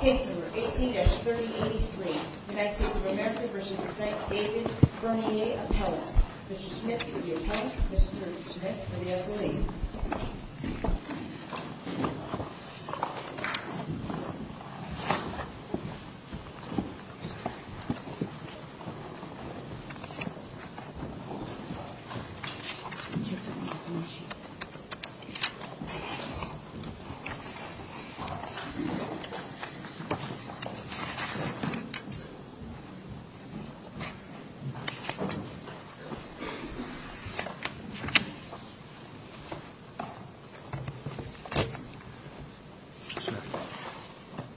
Case number 18-3083, United States of America v. David Bernier Appellate Mr. Smith for the Appellate, Mr. Smith for the Appellate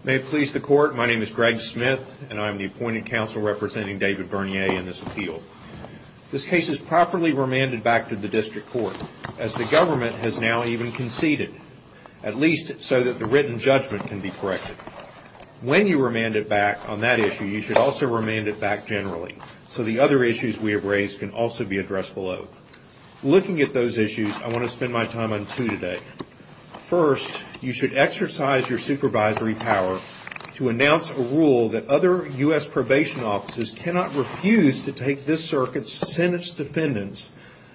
May it please the Court, my name is Greg Smith and I am the appointed counsel representing David Bernier in this appeal. This case is properly remanded back to the District Court as the government has now even conceded, at least so that the written judgment can be corrected. When you remand it back on that issue, you should also remand it back generally so the other issues we have raised can also be addressed below. Looking at those issues, I want to spend my time on two today. First, you should exercise your supervisory power to announce a rule that other U.S. probation offices cannot refuse to take this Circuit's sentence defendants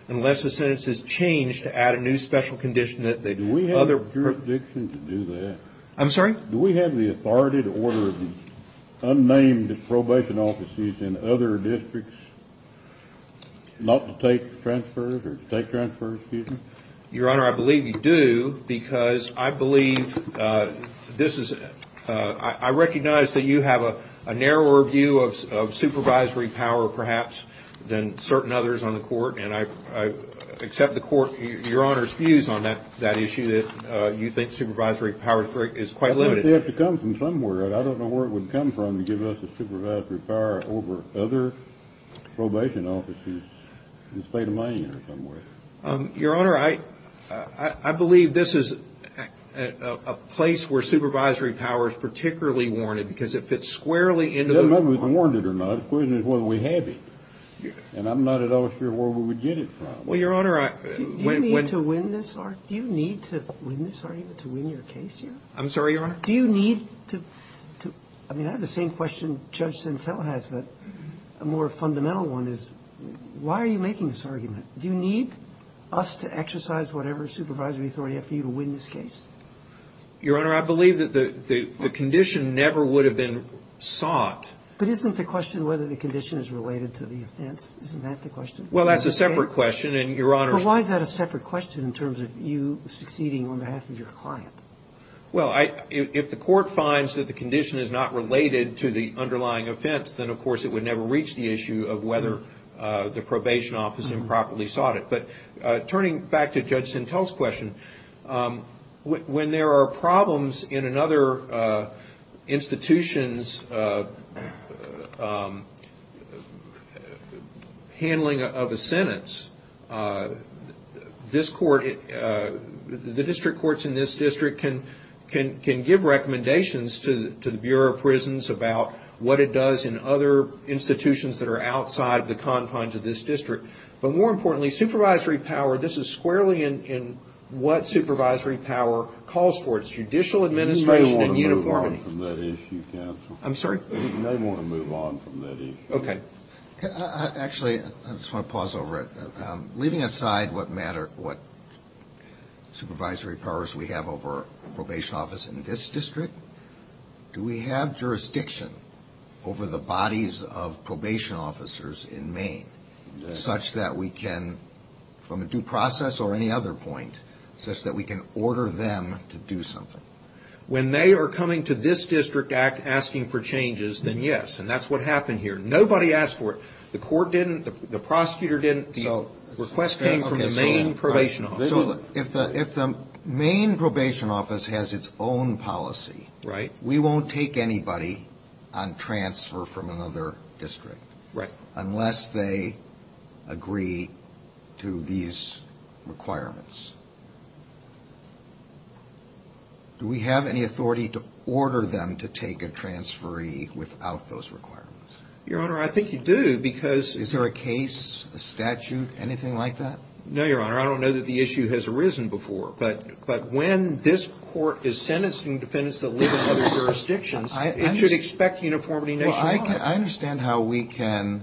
unless the sentence is changed to add a new special condition that the other... Do we have the jurisdiction to do that? I'm sorry? Do we have the authority to order unnamed probation offices in other districts not to take transfers or to take transfers, excuse me? Your Honor, I believe you do because I believe this is, I recognize that you have a narrower view of supervisory power perhaps than certain others on the Court and I accept the Court, Your Honor's views on that issue that you think supervisory power is quite limited. I think they have to come from somewhere. I don't know where it would come from to give us a supervisory power over other probation offices in the state of Maine or somewhere. Your Honor, I believe this is a place where supervisory power is particularly warranted because it fits squarely into the... Whether it's warranted or not, the question is whether we have it. And I'm not at all sure where we would get it from. Well, Your Honor, I... Do you need to win this argument to win your case here? I'm sorry, Your Honor? Do you need to... I mean, I have the same question Judge Sintel has, but a more fundamental one is why are you making this argument? Do you need us to exercise whatever supervisory authority I have for you to win this case? Your Honor, I believe that the condition never would have been sought. But isn't the question whether the condition is related to the offense? Isn't that the question? Well, that's a separate question and, Your Honor... But why is that a separate question in terms of you succeeding on behalf of your client? Well, if the Court finds that the condition is not related to the underlying offense, then of course it would never reach the issue of whether the probation office improperly sought it. But turning back to Judge Sintel's question, when there are problems in another institution's handling of a sentence, this Court... The district courts in this district can give recommendations to the Bureau of Prisons about what it does in other institutions that are in the district. And this is squarely in what supervisory power calls for. It's judicial administration and uniformity. You may want to move on from that issue, counsel. I'm sorry? You may want to move on from that issue. Okay. Actually, I just want to pause over it. Leaving aside what matter... what supervisory powers we have over a probation office in this district, do we have jurisdiction over the bodies of probation officers in Maine such that we can, from a due process or any other point, such that we can order them to do something? When they are coming to this district act asking for changes, then yes. And that's what happened here. Nobody asked for it. The court didn't. The prosecutor didn't. The request came from the Maine Probation Office. So if the Maine Probation Office has its own policy, we won't take anybody on transfer from another district unless they agree to these requirements. Do we have any authority to order them to take a transferee without those requirements? Your Honor, I think you do because... Is there a case, a statute, anything like that? No, Your Honor. I don't know that the issue has arisen before. But when this court is I understand how we can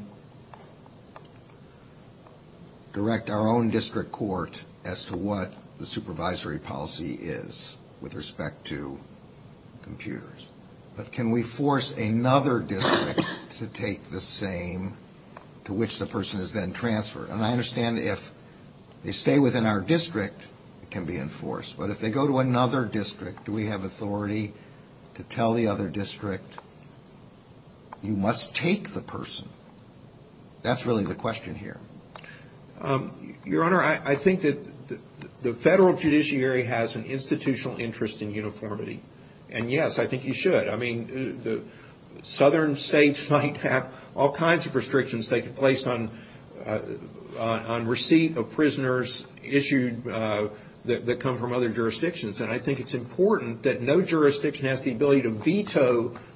direct our own district court as to what the supervisory policy is with respect to computers. But can we force another district to take the same to which the person is then transferred? And I understand if they stay within our district, it can be enforced. But if they go to another district, do we have authority to tell the other district you must take the person? That's really the question here. Your Honor, I think that the federal judiciary has an institutional interest in uniformity. And yes, I think you should. I mean, the southern states might have all kinds of restrictions taking place on receipt of prisoners issued that come from other jurisdictions. And I think you should have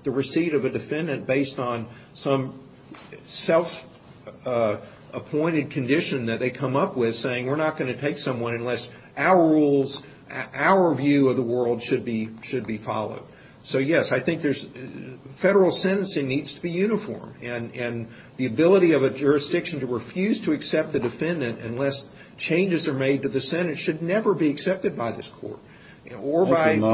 a receipt of a defendant based on some self-appointed condition that they come up with saying, we're not going to take someone unless our rules, our view of the world should be followed. So yes, I think there's... Federal sentencing needs to be uniform. And the ability of a jurisdiction to refuse to accept the defendant unless changes are made to the Senate should never be accepted by this court or by any court.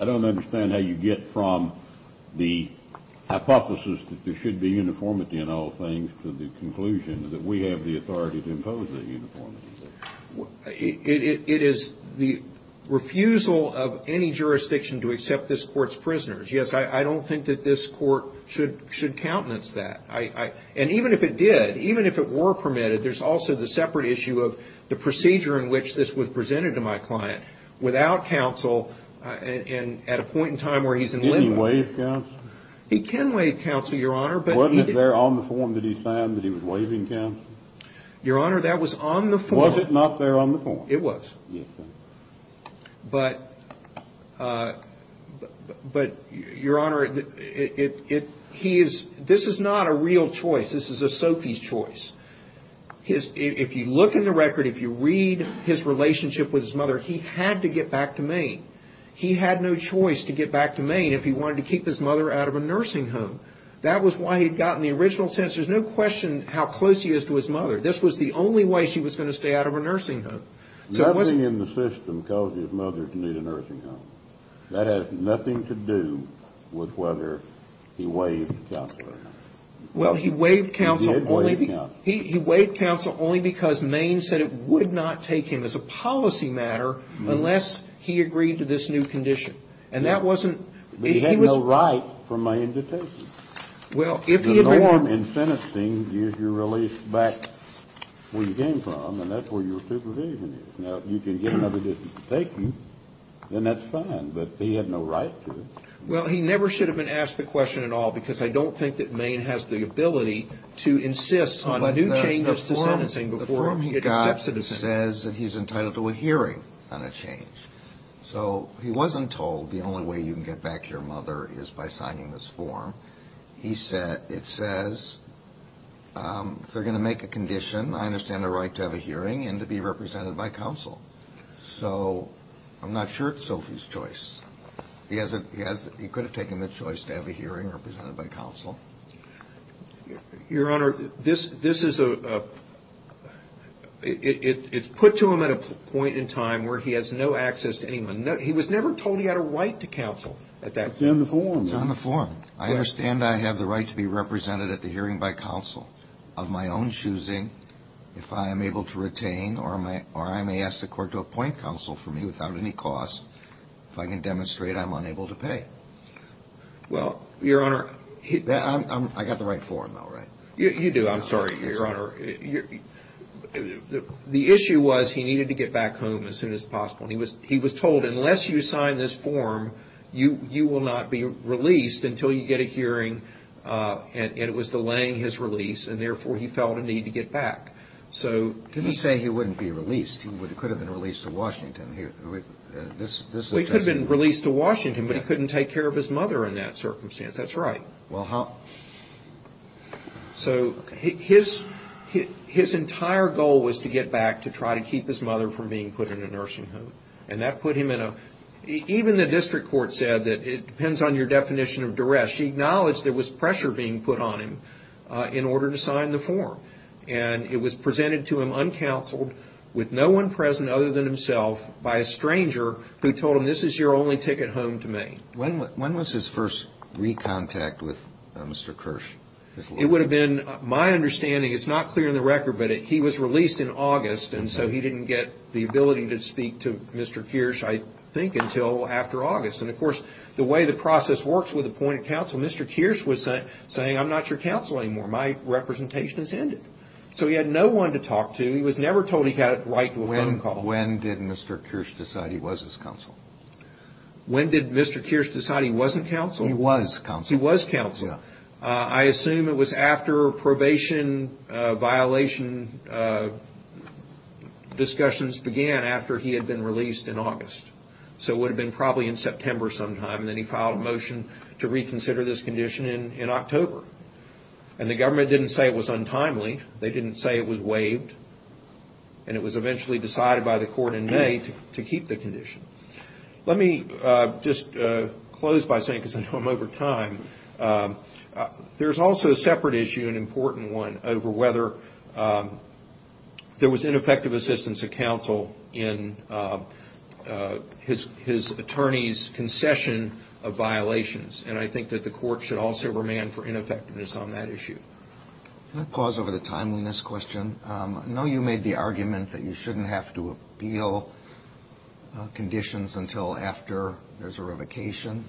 I don't understand how you get from the hypothesis that there should be uniformity in all things to the conclusion that we have the authority to impose that uniformity. It is the refusal of any jurisdiction to accept this court's prisoners. Yes, I don't think that this court should countenance that. And even if it did, even if it were permitted, there's also the separate issue of the procedure in which this was presented to my client without counsel and at a point in time where he's in limbo. Can he waive counsel? He can waive counsel, Your Honor, but he didn't... Wasn't it there on the form that he signed that he was waiving counsel? Your Honor, that was on the form. Was it not there on the form? It was. But, Your Honor, this is not a real choice. This is a Sophie's choice. If you look in the record, if you read his relationship with his mother, he had to get back to Maine. He had no choice to get back to Maine if he wanted to keep his mother out of a nursing home. That was why he got in the original sentence. There's no question how close he is to his mother. This was the only way she was going to stay out of a nursing home. Nothing in the system caused his mother to need a nursing home. That has nothing to do with whether he waived counsel or not. Well, he waived counsel only because Maine said it would not take him as a policy matter unless he agreed to this new condition. And that wasn't... But he had no right for Maine to take him. Well, if he had... The form in sentencing gives you relief back where you came from, and that's where your supervision is. Now, if you can get another decision to take you, then that's fine. But he had no right to. Well, he never should have been asked the question at all, because I don't think that Maine has the ability to insist on new changes to sentencing before it accepts it. But the form he got says that he's entitled to a hearing on a change. So he wasn't told the only way you can get back to your mother is by signing this form. It says, if they're going to make a condition, I understand the right to have a hearing and to be represented by counsel. So I'm not sure it's Sophie's choice. He could have taken the choice to have a hearing represented by counsel. Your Honor, it's put to him at a point in time where he has no access to anyone. He was never told he had a right to counsel at that point. It's in the form. It's on the form. I understand I have the right to be represented at the hearing by counsel of my own choosing. If I am able to retain, or I may ask the court to appoint counsel for me without any cost, if I can demonstrate I'm unable to pay. Well, Your Honor... I got the right form, though, right? You do. I'm sorry, Your Honor. The issue was he needed to get back home as soon as possible. He was told, unless you sign this form, you will not be released until you get a hearing. It was delaying his release, and therefore he felt a need to get back. He said he wouldn't be released. He could have been released to Washington. He could have been released to Washington, but he couldn't take care of his mother in that circumstance. That's right. Well, how... So his entire goal was to get back to try to keep his mother from being put in a nursing home, and that put him in a... Even the district court said that it depends on your definition of duress. She acknowledged there was pressure being put on him in order to sign the form, and it was presented to him uncounseled with no one present other than himself by a stranger who told him, this is your only ticket home to Maine. When was his first re-contact with Mr. Kirsch? It would have been, my understanding, it's not clear on the record, but he was released in August, and so he didn't get the ability to speak to Mr. Kirsch, I think, until after August. And of course, the way the process works with appointed counsel, Mr. Kirsch was saying, I'm not your counsel anymore. My representation has ended. So he had no one to talk to. He was never told he had a right to a phone call. When did Mr. Kirsch decide he was his counsel? When did Mr. Kirsch decide he wasn't counsel? He was counsel. I assume it was after probation violation discussions began after he had been released in August. So it would have been probably in September sometime, and then he filed a motion to reconsider this condition in October. And the government didn't say it was untimely. They didn't say it was waived. And it was eventually decided by the court in May to keep the condition. Let me just close by saying, because I know I'm over time, there's also a separate issue, an important one, over whether there was ineffective assistance of counsel in his attorney's concession of violations. And I think that the court should also remand for ineffectiveness on that issue. Can I pause over the timeliness question? I know you made the argument that you shouldn't have to appeal conditions until after there's a revocation.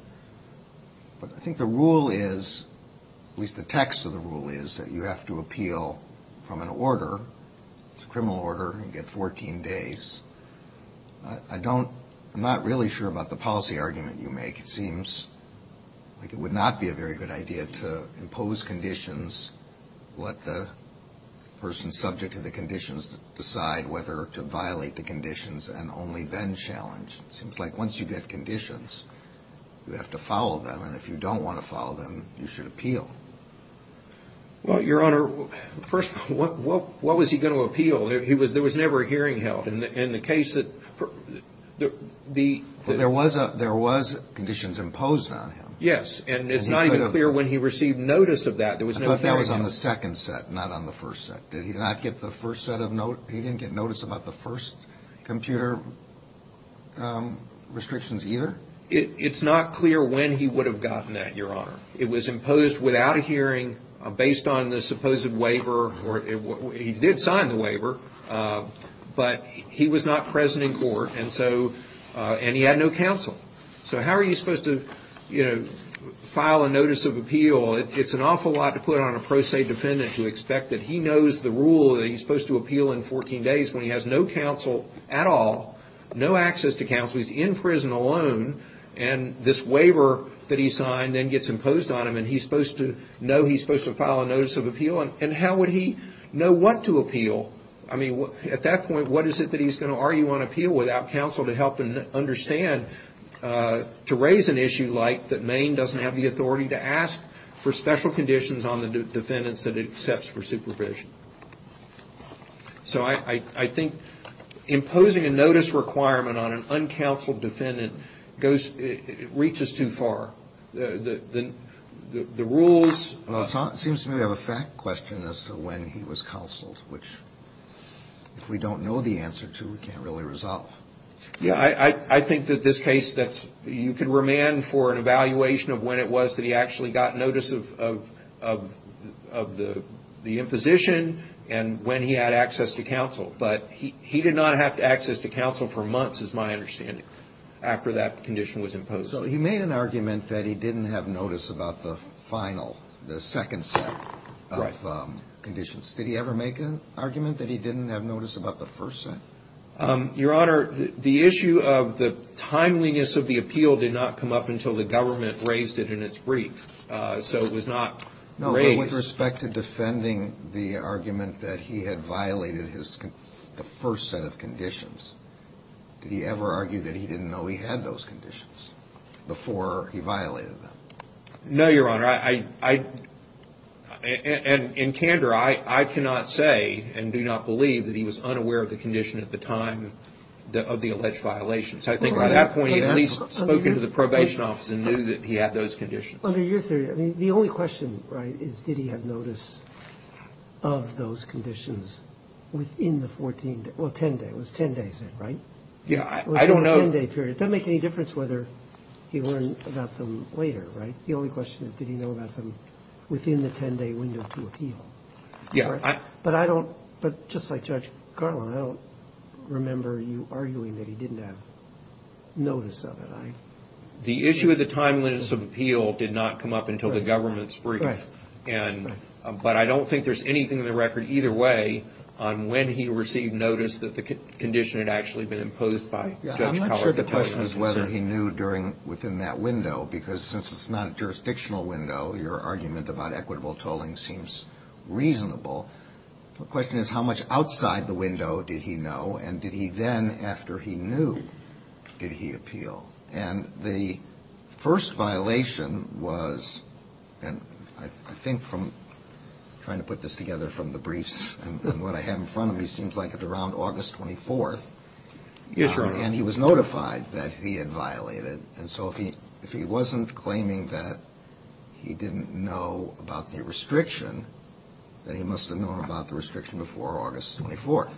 But I think the rule is, at least the text of the rule is, that you have to appeal from an order. It's a criminal order. You get 14 days. I'm not really sure about the policy argument you make. It seems like it would not be a very good idea to impose conditions, let the person subject to the conditions decide whether to violate the conditions, and only then challenge. It seems like once you get conditions, you have to follow them. And if you don't want to follow them, you should appeal. Well, Your Honor, first, what was he going to appeal? There was never a hearing held. There was conditions imposed on him. Yes, and it's not even clear when he received notice of that. I thought that was on the second set, not on the first set. Did he not get the first set of notes? He didn't get notice about the first computer restrictions either? It's not clear when he would have gotten that, Your Honor. It was imposed without a hearing, based on the supposed waiver. He did sign the waiver, but he was not present in court, and he had no counsel. So how are you supposed to file a notice of appeal? It's an awful lot to put on a pro se defendant to expect that he knows the rule that he's supposed to appeal in 14 days when he has no counsel at all, no access to counsel. He's in prison alone, and this waiver that he signed then gets imposed on him, and he's supposed to know he's supposed to file a notice of appeal. And how would he know what to appeal? I mean, at that point, what is it that he's going to argue on appeal without counsel to help him understand to raise an issue like that Maine doesn't have the authority to ask for special conditions on the defendants that it accepts for supervision? So I think imposing a notice requirement on an uncounseled defendant reaches too far. Well, it seems to me we have a fact question as to when he was counseled, which if we don't know the answer to, we can't really resolve. Yeah. I think that this case, you can remand for an evaluation of when it was that he actually got notice of the imposition and when he had access to counsel. But he did not have access to counsel for months, is my understanding, after that condition was imposed. So he made an argument that he didn't have notice about the final, the second set of conditions. Did he ever make an argument that he didn't have notice about the first set? Your Honor, the issue of the timeliness of the appeal did not come up until the government raised it in its brief. So it was not raised. No, but with respect to defending the argument that he had violated the first set of conditions, did he ever argue that he didn't know he had those conditions before he violated them? No, Your Honor. And in candor, I cannot say and do not believe that he was unaware of the condition at the time of the alleged violation. So I think by that point he had at least spoken to the probation office and knew that he had those conditions. Under your theory, I mean, the only question, right, is did he have notice of those conditions within the 14 days? Well, 10 days, it was 10 days then, right? Yeah, I don't know. Within a 10-day period. It doesn't make any difference whether he learned about them later, right? The only question is did he know about them within the 10-day window to appeal? Yeah. But I don't, but just like Judge Garland, I don't remember you arguing that he didn't have notice of it. The issue of the timeliness of appeal did not come up until the government's brief. Right. But I don't think there's anything in the record either way on when he received notice that the condition had actually been imposed by Judge Collard. I'm not sure the question is whether he knew within that window, because since it's not a jurisdictional window, your argument about equitable tolling seems reasonable. The question is how much outside the window did he know, and did he then, after he knew, did he appeal? And the first violation was, and I think from trying to put this together from the briefs and what I have in front of me, seems like it's around August 24th. Yes, Your Honor. And he was notified that he had violated. And so if he wasn't claiming that he didn't know about the restriction, then he must have known about the restriction before August 24th.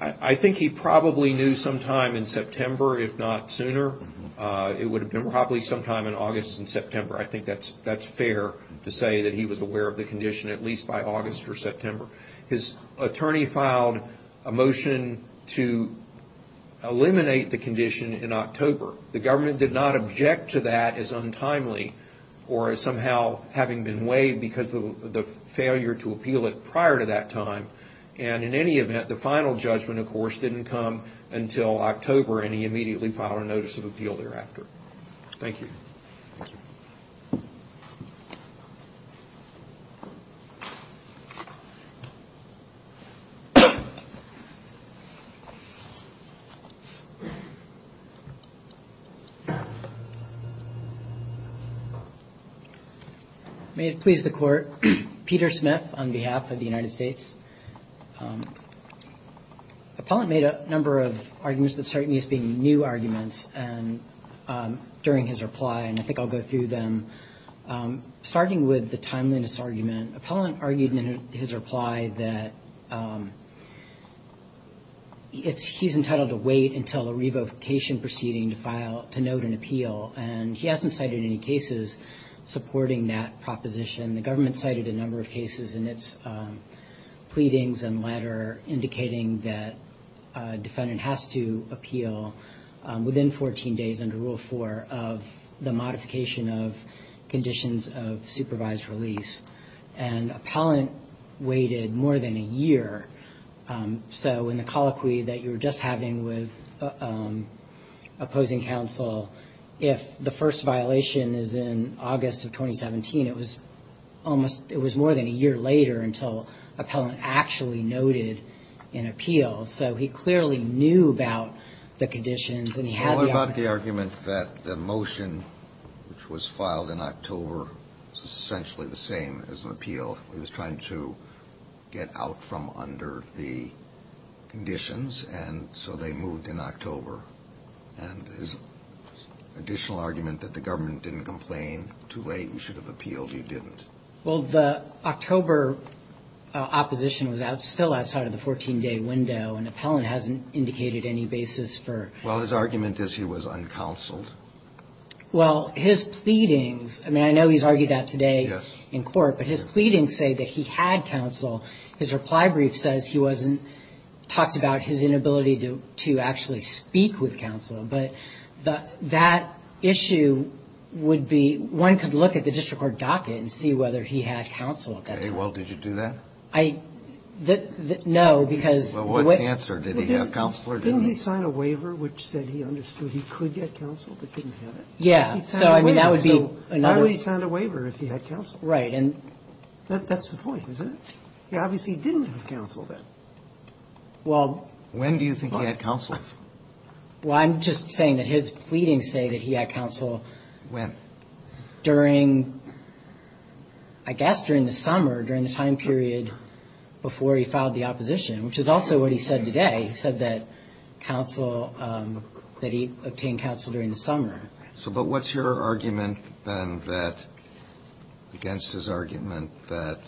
I think he probably knew sometime in September, if not sooner. It would have been probably sometime in August and September. I think that's fair to say that he was aware of the condition at least by August or September. His attorney filed a motion to eliminate the condition in October. The government did not object to that as untimely or as somehow having been waived because of the failure to appeal it prior to that time. And in any event, the final judgment, of course, didn't come until October, and he immediately filed a notice of appeal thereafter. Thank you. Thank you. May it please the Court. Peter Smith on behalf of the United States. Appellant made a number of arguments that start me as being new arguments during his reply, and I think I'll go through them. Starting with the timeliness argument, Appellant argued in his reply that he's entitled to wait until a revocation proceeding to note an appeal, and he hasn't cited any cases supporting that proposition. The government cited a number of cases in its pleadings and latter indicating that a defendant has to appeal within 14 days under Rule 4 of the modification of conditions of supervised release. And Appellant waited more than a year. So in the colloquy that you were just having with opposing counsel, if the first violation is in August of 2017, it was more than a year later until Appellant actually noted an appeal. So he clearly knew about the conditions and he had the argument. Well, what about the argument that the motion, which was filed in October, was essentially the same as an appeal? He was trying to get out from under the conditions, and so they moved in October. And his additional argument that the government didn't complain, too late, you should have appealed, you didn't. Well, the October opposition was still outside of the 14-day window, and Appellant hasn't indicated any basis for it. Well, his argument is he was uncounseled. Well, his pleadings, I mean, I know he's argued that today in court, but his pleadings say that he had counsel. His reply brief says he wasn't, talks about his inability to actually speak with counsel. But that issue would be, one could look at the district court docket and see whether he had counsel at that time. Okay. Well, did you do that? I, no, because. Well, what answer? Did he have counsel? Didn't he sign a waiver which said he understood he could get counsel, but didn't have it? Yeah. He signed a waiver. So why would he sign a waiver if he had counsel? Right. That's the point, isn't it? He obviously didn't have counsel then. Well. When do you think he had counsel? Well, I'm just saying that his pleadings say that he had counsel. When? During, I guess during the summer, during the time period before he filed the opposition, which is also what he said today. He said that counsel, that he obtained counsel during the summer. So, but what's your argument then that, against his argument that,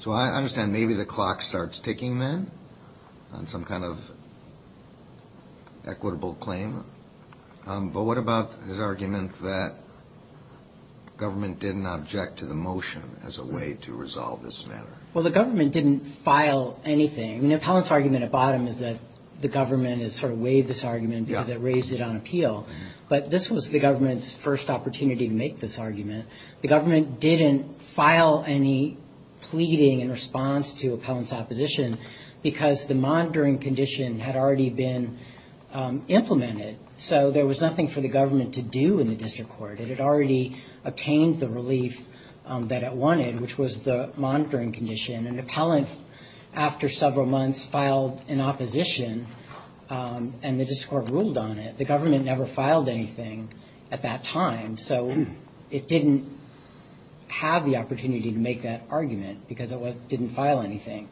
so I understand maybe the clock starts ticking then on some kind of equitable claim. But what about his argument that government didn't object to the motion as a way to resolve this matter? Well, the government didn't file anything. I mean, Appellant's argument at bottom is that the government has sort of waived this argument because it raised it on appeal. But this was the government's first opportunity to make this argument. The government didn't file any pleading in response to Appellant's opposition because the monitoring condition had already been implemented. So there was nothing for the government to do in the district court. It had already obtained the relief that it wanted, which was the monitoring condition. And Appellant, after several months, filed an opposition, and the district court ruled on it. The government never filed anything at that time. So it didn't have the opportunity to make that argument because it didn't file anything.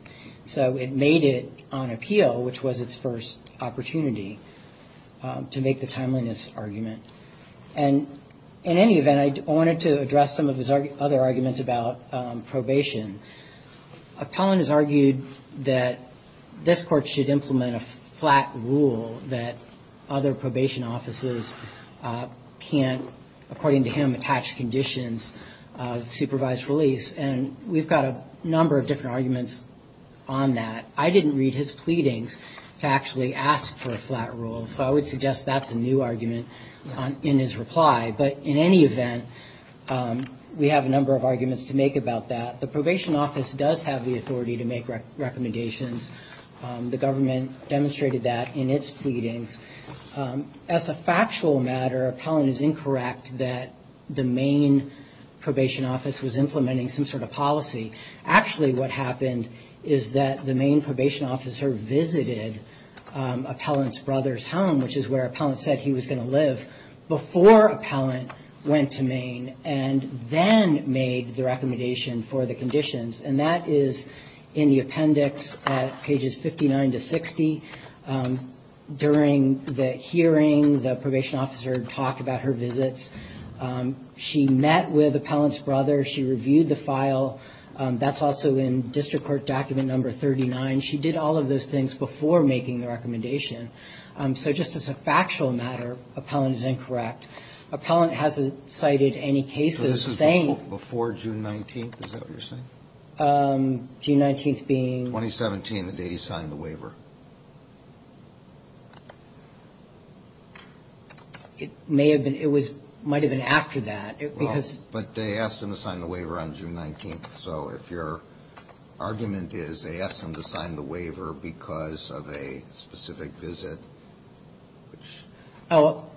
So it made it on appeal, which was its first opportunity to make the timeliness argument. And in any event, I wanted to address some of his other arguments about probation. Appellant has argued that this court should implement a flat rule that other probation offices can't, according to him, attach conditions of supervised release. And we've got a number of different arguments on that. I didn't read his pleadings to actually ask for a flat rule, so I would suggest that's a new argument in his reply. But in any event, we have a number of arguments to make about that. The probation office does have the authority to make recommendations. The government demonstrated that in its pleadings. As a factual matter, Appellant is incorrect that the Maine probation office was implementing some sort of policy. Actually, what happened is that the Maine probation officer visited Appellant's brother's home, which is where Appellant said he was going to live, before Appellant went to Maine and then made the recommendation for the conditions. And that is in the appendix at pages 59 to 60. During the hearing, the probation officer talked about her visits. She met with Appellant's brother. She reviewed the file. That's also in district court document number 39. She did all of those things before making the recommendation. So just as a factual matter, Appellant is incorrect. Appellant hasn't cited any cases saying. So this was before June 19th? Is that what you're saying? June 19th being. 2017, the day he signed the waiver. It might have been after that. Well, but they asked him to sign the waiver on June 19th. So if your argument is they asked him to sign the waiver because of a specific visit, which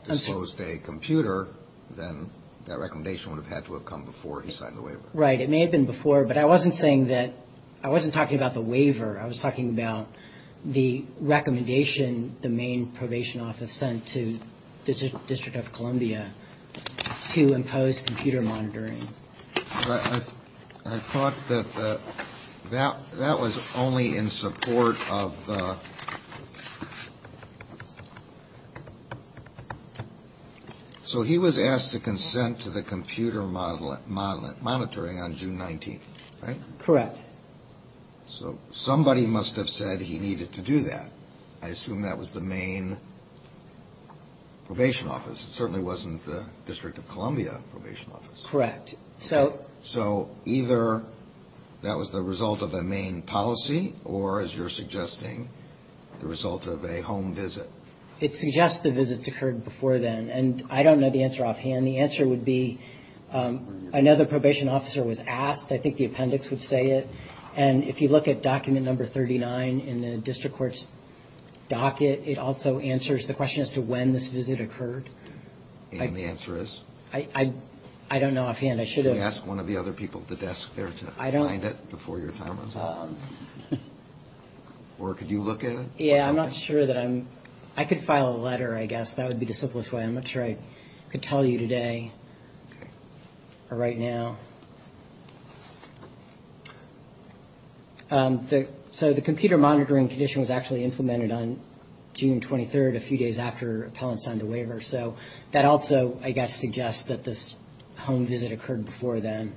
disclosed a computer, then that recommendation would have had to have come before he signed the waiver. Right. It may have been before. But I wasn't saying that. I wasn't talking about the waiver. I was talking about the recommendation the Maine probation office sent to the District of Columbia to impose computer monitoring. I thought that that that was only in support of. So he was asked to consent to the computer modeling monitoring on June 19th. Right. Correct. So somebody must have said he needed to do that. I assume that was the Maine probation office. It certainly wasn't the District of Columbia probation office. Correct. So. So either that was the result of a Maine policy or, as you're suggesting, the result of a home visit. It suggests the visits occurred before then. And I don't know the answer offhand. The answer would be another probation officer was asked. I think the appendix would say it. And if you look at document number 39 in the district court's docket, it also answers the question as to when this visit occurred. And the answer is? I don't know offhand. I should have asked one of the other people at the desk there to find it before your time runs out. Or could you look at it? Yeah, I'm not sure that I'm. I could file a letter, I guess. That would be the simplest way. I'm not sure I could tell you today or right now. So the computer monitoring condition was actually implemented on June 23rd, a few days after appellants signed the waiver. So that also, I guess, suggests that this home visit occurred before then,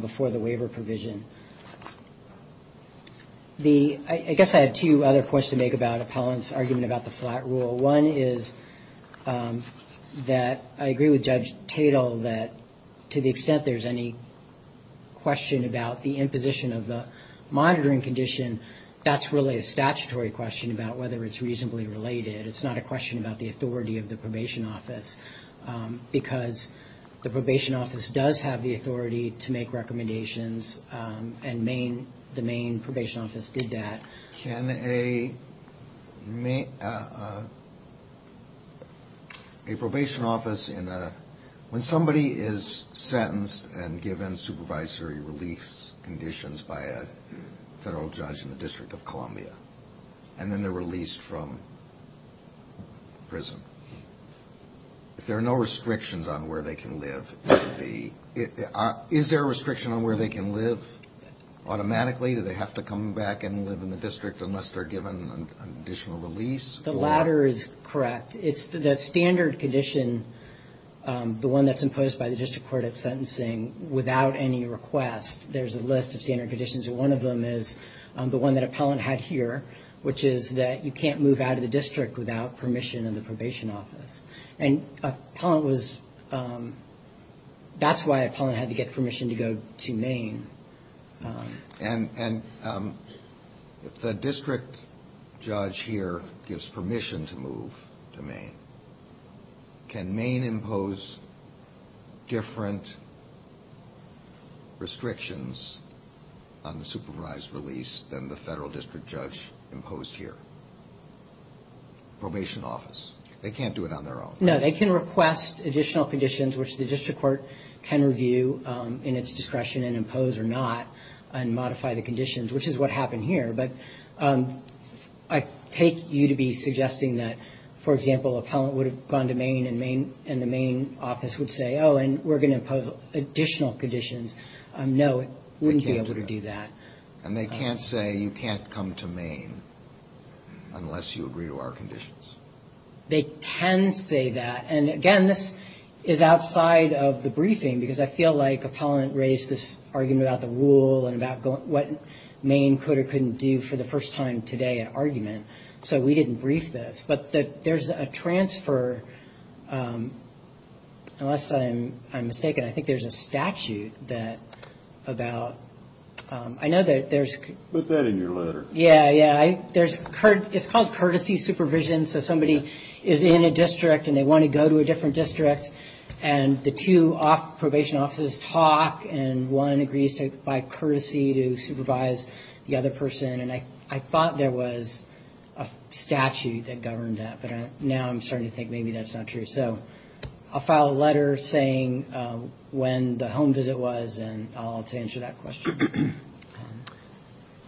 before the waiver provision. I guess I had two other points to make about appellants' argument about the flat rule. One is that I agree with Judge Tatel that to the extent there's any question about the imposition of the monitoring condition, that's really a statutory question about whether it's reasonably related. It's not a question about the authority of the probation office, because the probation office does have the authority to make recommendations, and the Maine Probation Office did that. Can a probation office, when somebody is sentenced and given supervisory relief conditions by a federal judge in the District of Columbia, and then they're released from prison, if there are no restrictions on where they can live, is there a restriction on where they can live automatically? Do they have to come back and live in the District unless they're given additional release? The latter is correct. The standard condition, the one that's imposed by the District Court of Sentencing, without any request, there's a list of standard conditions, and one of them is the one that appellant had here, which is that you can't move out of the district without permission of the probation office. And appellant was – that's why appellant had to get permission to go to Maine. And if the district judge here gives permission to move to Maine, can Maine impose different restrictions on the supervised release than the federal district judge imposed here? Probation office. They can't do it on their own, right? No, they can request additional conditions, which the district court can review in its discretion and impose or not and modify the conditions, which is what happened here. But I take you to be suggesting that, for example, appellant would have gone to Maine and the Maine office would say, oh, and we're going to impose additional conditions. No, it wouldn't be able to do that. And they can't say you can't come to Maine unless you agree to our conditions? They can say that. And, again, this is outside of the briefing, because I feel like appellant raised this argument about the rule and about what Maine could or couldn't do for the first time today in argument. So we didn't brief this. But there's a transfer, unless I'm mistaken, I think there's a statute that about – I know that there's – Put that in your letter. Yeah, yeah. It's called courtesy supervision. So somebody is in a district and they want to go to a different district, and the two probation offices talk and one agrees by courtesy to supervise the other person. And I thought there was a statute that governed that, but now I'm starting to think maybe that's not true. So I'll file a letter saying when the home visit was, and I'll answer that question.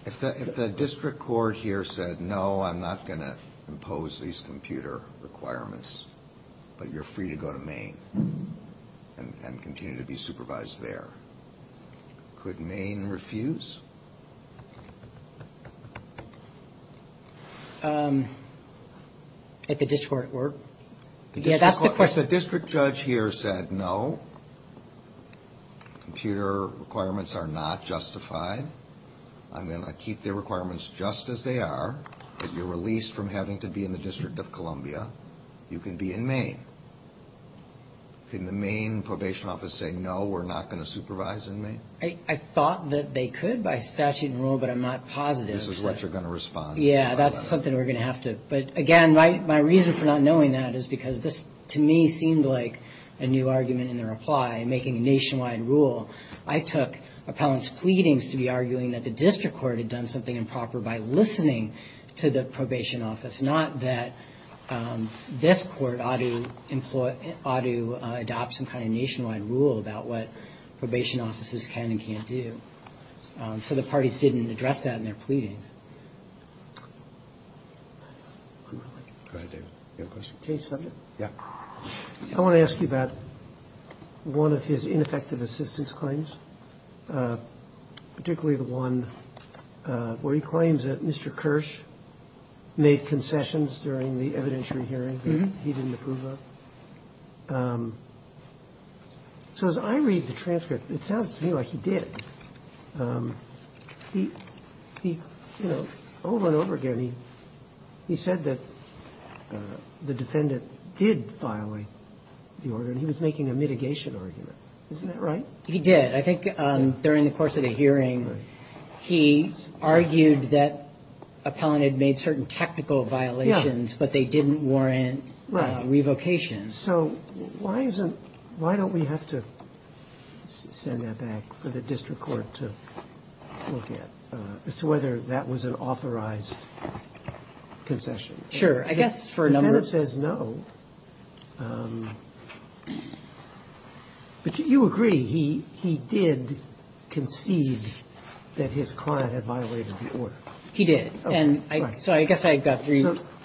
If the district court here said, no, I'm not going to impose these computer requirements, but you're free to go to Maine and continue to be supervised there, could Maine refuse? If the district court were? Yeah, that's the question. If the district judge here said, no, computer requirements are not justified, I'm going to keep the requirements just as they are, but you're released from having to be in the District of Columbia, you can be in Maine. Can the Maine probation office say, no, we're not going to supervise in Maine? I thought that they could by statute and rule, but I'm not positive. This is what you're going to respond to. Yeah, that's something we're going to have to – But, again, my reason for not knowing that is because this, to me, seemed like a new argument in the reply, making a nationwide rule. I took appellant's pleadings to be arguing that the district court had done something improper by listening to the probation office, not that this court ought to adopt some kind of nationwide rule about what probation offices can and can't do. So the parties didn't address that in their pleadings. Go ahead, David. You have a question? Change subject? Yeah. I want to ask you about one of his ineffective assistance claims, particularly the one where he claims that Mr. Kirsch made concessions during the evidentiary hearing that he didn't approve of. So as I read the transcript, it sounds to me like he did. He, you know, over and over again, he said that the defendant did violate the order, and he was making a mitigation argument. Isn't that right? He did. I think during the course of the hearing, he argued that appellant had made certain technical violations, but they didn't warrant revocation. So why isn't, why don't we have to send that back for the district court to look at, as to whether that was an authorized concession? Sure. I guess for a number of reasons. The defendant says no. But you agree. He did concede that his client had violated the order. He did. So I guess I've got three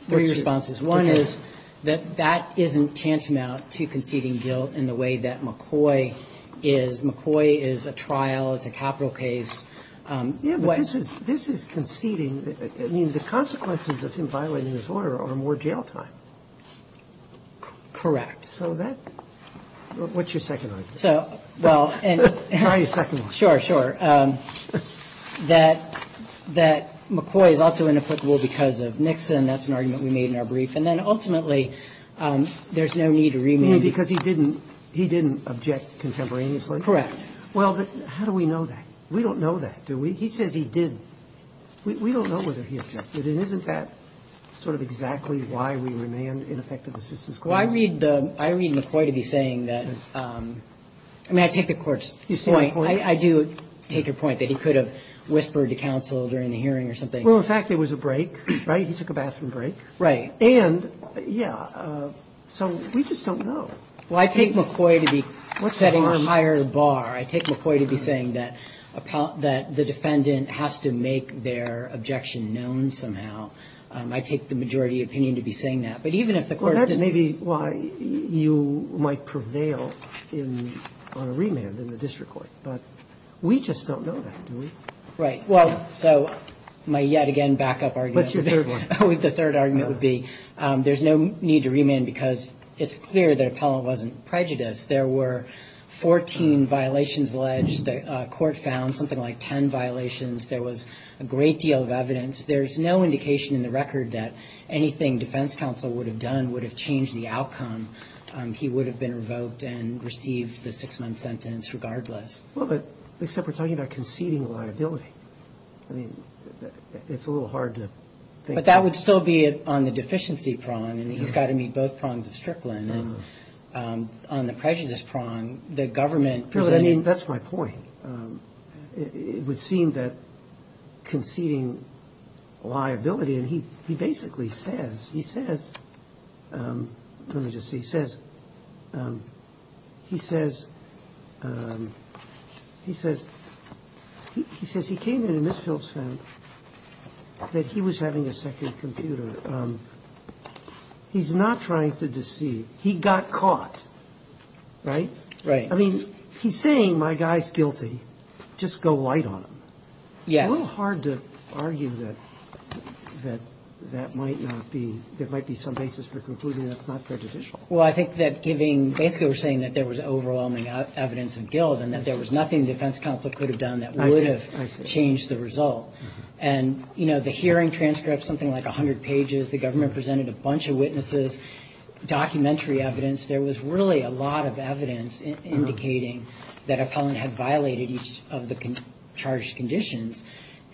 responses. One is that that isn't tantamount to conceding guilt in the way that McCoy is. McCoy is a trial. It's a capital case. Yeah, but this is conceding. I mean, the consequences of him violating his order are more jail time. Correct. So that, what's your second argument? So, well, and. Try your second one. Sure, sure. That, that McCoy is also inapplicable because of Nixon. That's an argument we made in our brief. And then ultimately, there's no need to remand. You mean because he didn't, he didn't object contemporaneously? Correct. Well, but how do we know that? We don't know that, do we? He says he did. We don't know whether he objected. And isn't that sort of exactly why we remand ineffective assistance claims? Well, I read the, I read McCoy to be saying that. I mean, I take the Court's point. You see my point? I do take your point that he could have whispered to counsel during the hearing or something. Well, in fact, there was a break, right? He took a bathroom break. Right. And, yeah, so we just don't know. Well, I take McCoy to be setting a higher bar. I take McCoy to be saying that the defendant has to make their objection known somehow. I take the majority opinion to be saying that. But even if the Court doesn't Well, that's maybe why you might prevail on a remand in the district court. But we just don't know that, do we? Right. Well, so my yet again backup argument What's your third one? The third argument would be there's no need to remand because it's clear that Appellant wasn't prejudiced. There were 14 violations alleged. The Court found something like 10 violations. There was a great deal of evidence. There's no indication in the record that anything defense counsel would have done would have changed the outcome. He would have been revoked and received the six-month sentence regardless. Well, but except we're talking about conceding liability. I mean, it's a little hard to think But that would still be on the deficiency prong. I mean, he's got to meet both prongs of Strickland. And on the prejudice prong, the government Really, I mean, that's my point. It would seem that conceding liability And he basically says, he says Let me just see, he says He says He says he came in and Ms. Phelps found That he was having a second computer He's not trying to deceive. He got caught, right? Right. I mean, he's saying my guy's guilty. Just go light on him. Yes. It's a little hard to argue that That that might not be There might be some basis for concluding that's not prejudicial. Well, I think that giving Basically, we're saying that there was overwhelming evidence of guilt And that there was nothing defense counsel could have done That would have changed the result. And, you know, the hearing transcripts, something like 100 pages The government presented a bunch of witnesses Documentary evidence There was really a lot of evidence indicating That a felon had violated each of the charged conditions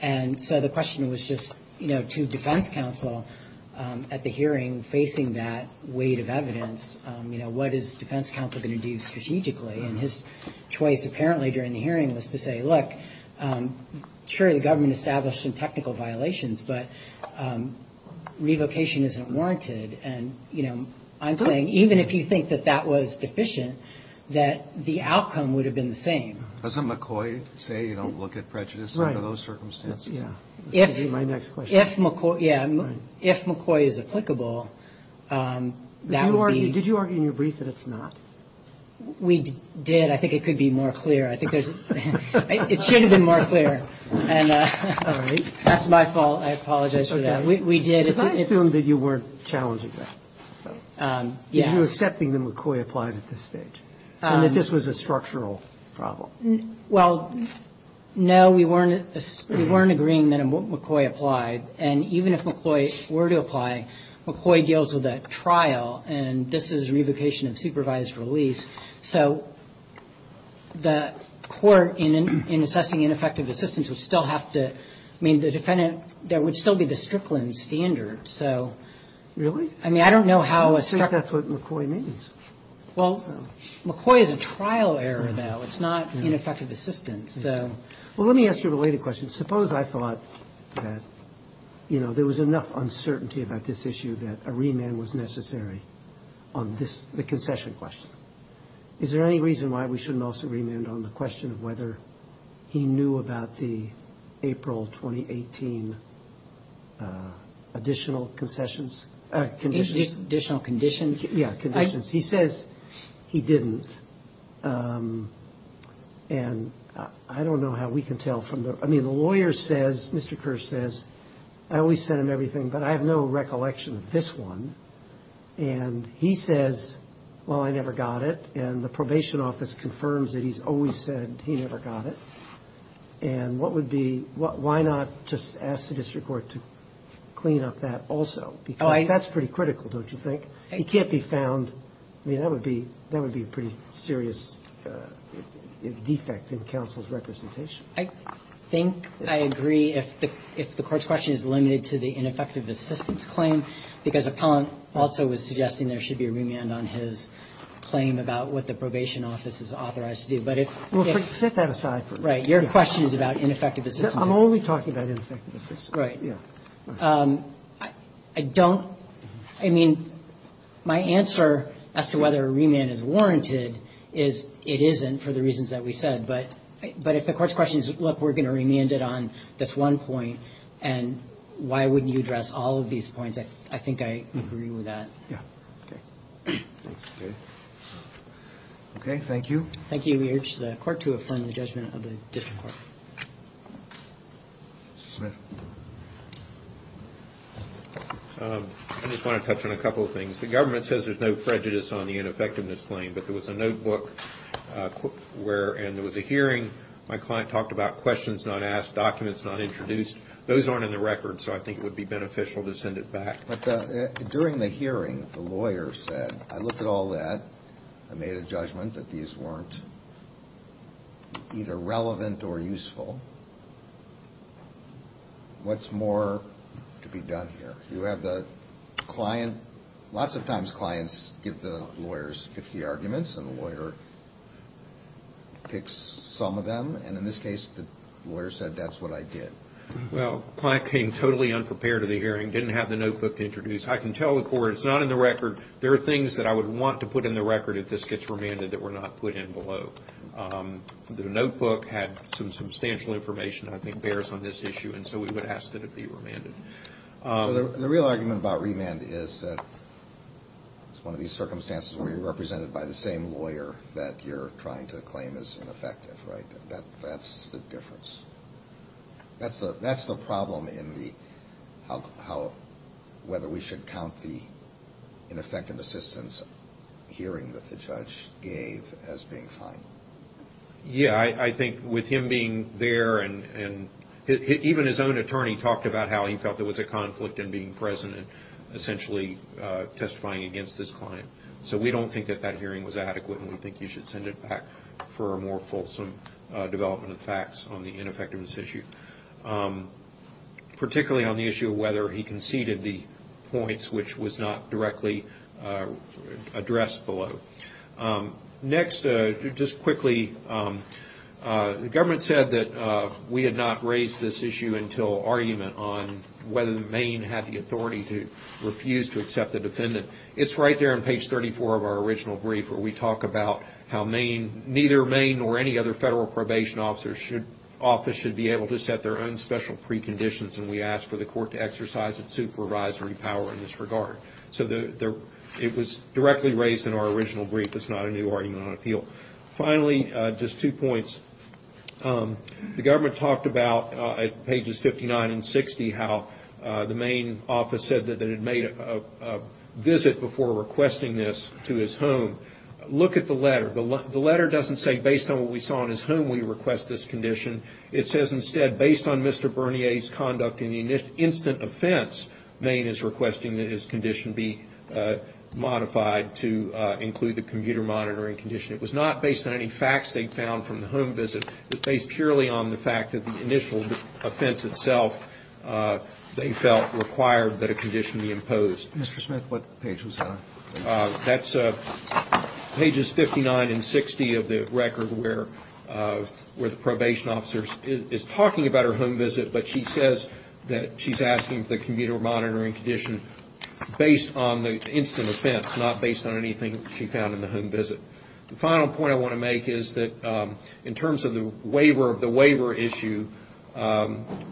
And so the question was just, you know, to defense counsel At the hearing facing that weight of evidence You know, what is defense counsel going to do strategically? And his choice apparently during the hearing was to say, look Sure, the government established some technical violations But revocation isn't warranted And, you know, I'm saying even if you think that that was deficient That the outcome would have been the same Doesn't McCoy say you don't look at prejudice under those circumstances? Yeah. My next question Yeah. If McCoy is applicable Did you argue in your brief that it's not? We did. I think it could be more clear. I think it should have been more clear. And that's my fault. I apologize for that. We did. Did I assume that you weren't challenging that? Yes. That you were accepting that McCoy applied at this stage? And that this was a structural problem? Well, no, we weren't agreeing that McCoy applied And even if McCoy were to apply, McCoy deals with a trial And this is revocation of supervised release So the court in assessing ineffective assistance would still have to I mean, the defendant There would still be the Strickland standard, so Really? I mean, I don't know how a I don't think that's what McCoy means Well, McCoy is a trial error, though It's not ineffective assistance, so Well, let me ask you a related question Suppose I thought that, you know There was enough uncertainty about this issue That a remand was necessary on this The concession question Is there any reason why we shouldn't also remand On the question of whether he knew about the April 2018 additional concessions Conditions Additional conditions Yeah, conditions He says he didn't And I don't know how we can tell from the I mean, the lawyer says Mr. Kersh says I always send him everything, but I have no recollection of this one And he says, well, I never got it And the probation office confirms that he's always said he never got it And what would be Why not just ask the district court to clean up that also Because that's pretty critical, don't you think It can't be found I mean, that would be That would be a pretty serious defect in counsel's representation I think I agree if the court's question is limited to the ineffective assistance claim Because upon also was suggesting there should be a remand on his claim about what the probation office is authorized to do But if Well, set that aside for me Right, your question is about ineffective assistance I'm only talking about ineffective assistance Right Yeah I don't I mean, my answer as to whether a remand is warranted is it isn't for the reasons that we said But if the court's question is, look, we're going to remand it on this one point And why wouldn't you address all of these points I think I agree with that Yeah Okay Okay Okay, thank you Thank you We urge the court to affirm the judgment of the district court Mr. Smith I just want to touch on a couple of things The government says there's no prejudice on the ineffectiveness claim But there was a notebook where And there was a hearing My client talked about questions not asked Documents not introduced Those aren't in the record So I think it would be beneficial to send it back But during the hearing, the lawyer said I looked at all that I made a judgment that these weren't Either relevant or useful What's more to be done here You have the client Lots of times clients give the lawyers 50 arguments And the lawyer picks some of them And in this case, the lawyer said that's what I did Well, the client came totally unprepared to the hearing Didn't have the notebook to introduce I can tell the court it's not in the record There are things that I would want to put in the record If this gets remanded that were not put in below The notebook had some substantial information I think bears on this issue And so we would ask that it be remanded The real argument about remand is that It's one of these circumstances where you're represented by the same lawyer That you're trying to claim is ineffective, right That's the difference That's the problem in how Whether we should count the ineffective assistance hearing That the judge gave as being fine Yeah, I think with him being there And even his own attorney talked about how he felt There was a conflict in being present And essentially testifying against his client So we don't think that that hearing was adequate And we think you should send it back For a more fulsome development of facts On the ineffectiveness issue Particularly on the issue of whether he conceded the points Which was not directly addressed below Next, just quickly The government said that We had not raised this issue until Argument on whether Maine had the authority To refuse to accept the defendant It's right there on page 34 of our original brief Where we talk about how neither Maine Or any other federal probation office Should be able to set their own special preconditions And we ask for the court to exercise its supervisory power In this regard It was directly raised in our original brief It's not a new argument on appeal Finally, just two points The government talked about At pages 59 and 60 How the Maine office said that It made a visit before requesting this to his home Look at the letter The letter doesn't say Based on what we saw in his home We request this condition It says instead Based on Mr. Bernier's conduct In the instant offense Maine is requesting that his condition be modified To include the computer monitoring condition It was not based on any facts they found from the home visit But based purely on the fact That the initial offense itself They felt required that a condition be imposed Mr. Smith, what page was that on? That's pages 59 and 60 of the record Where the probation officer Is talking about her home visit But she says that she's asking For the computer monitoring condition Based on the instant offense Not based on anything she found in the home visit The final point I want to make is that In terms of the waiver issue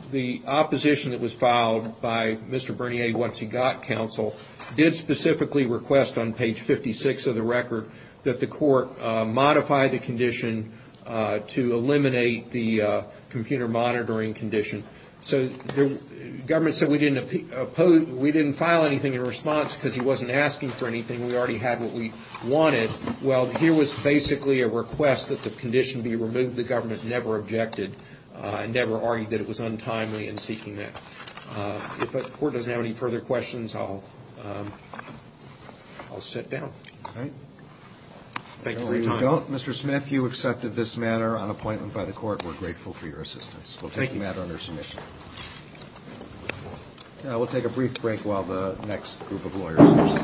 The opposition that was filed by Mr. Bernier Once he got counsel Did specifically request on page 56 of the record That the court modify the condition To eliminate the computer monitoring condition So the government said We didn't file anything in response Because he wasn't asking for anything We already had what we wanted Well, here was basically a request That the condition be removed The government never objected Never argued that it was untimely in seeking that If the court doesn't have any further questions I'll sit down Thank you for your time Mr. Smith, you accepted this matter On appointment by the court We're grateful for your assistance We'll take the matter under submission We'll take a brief break While the next group of lawyers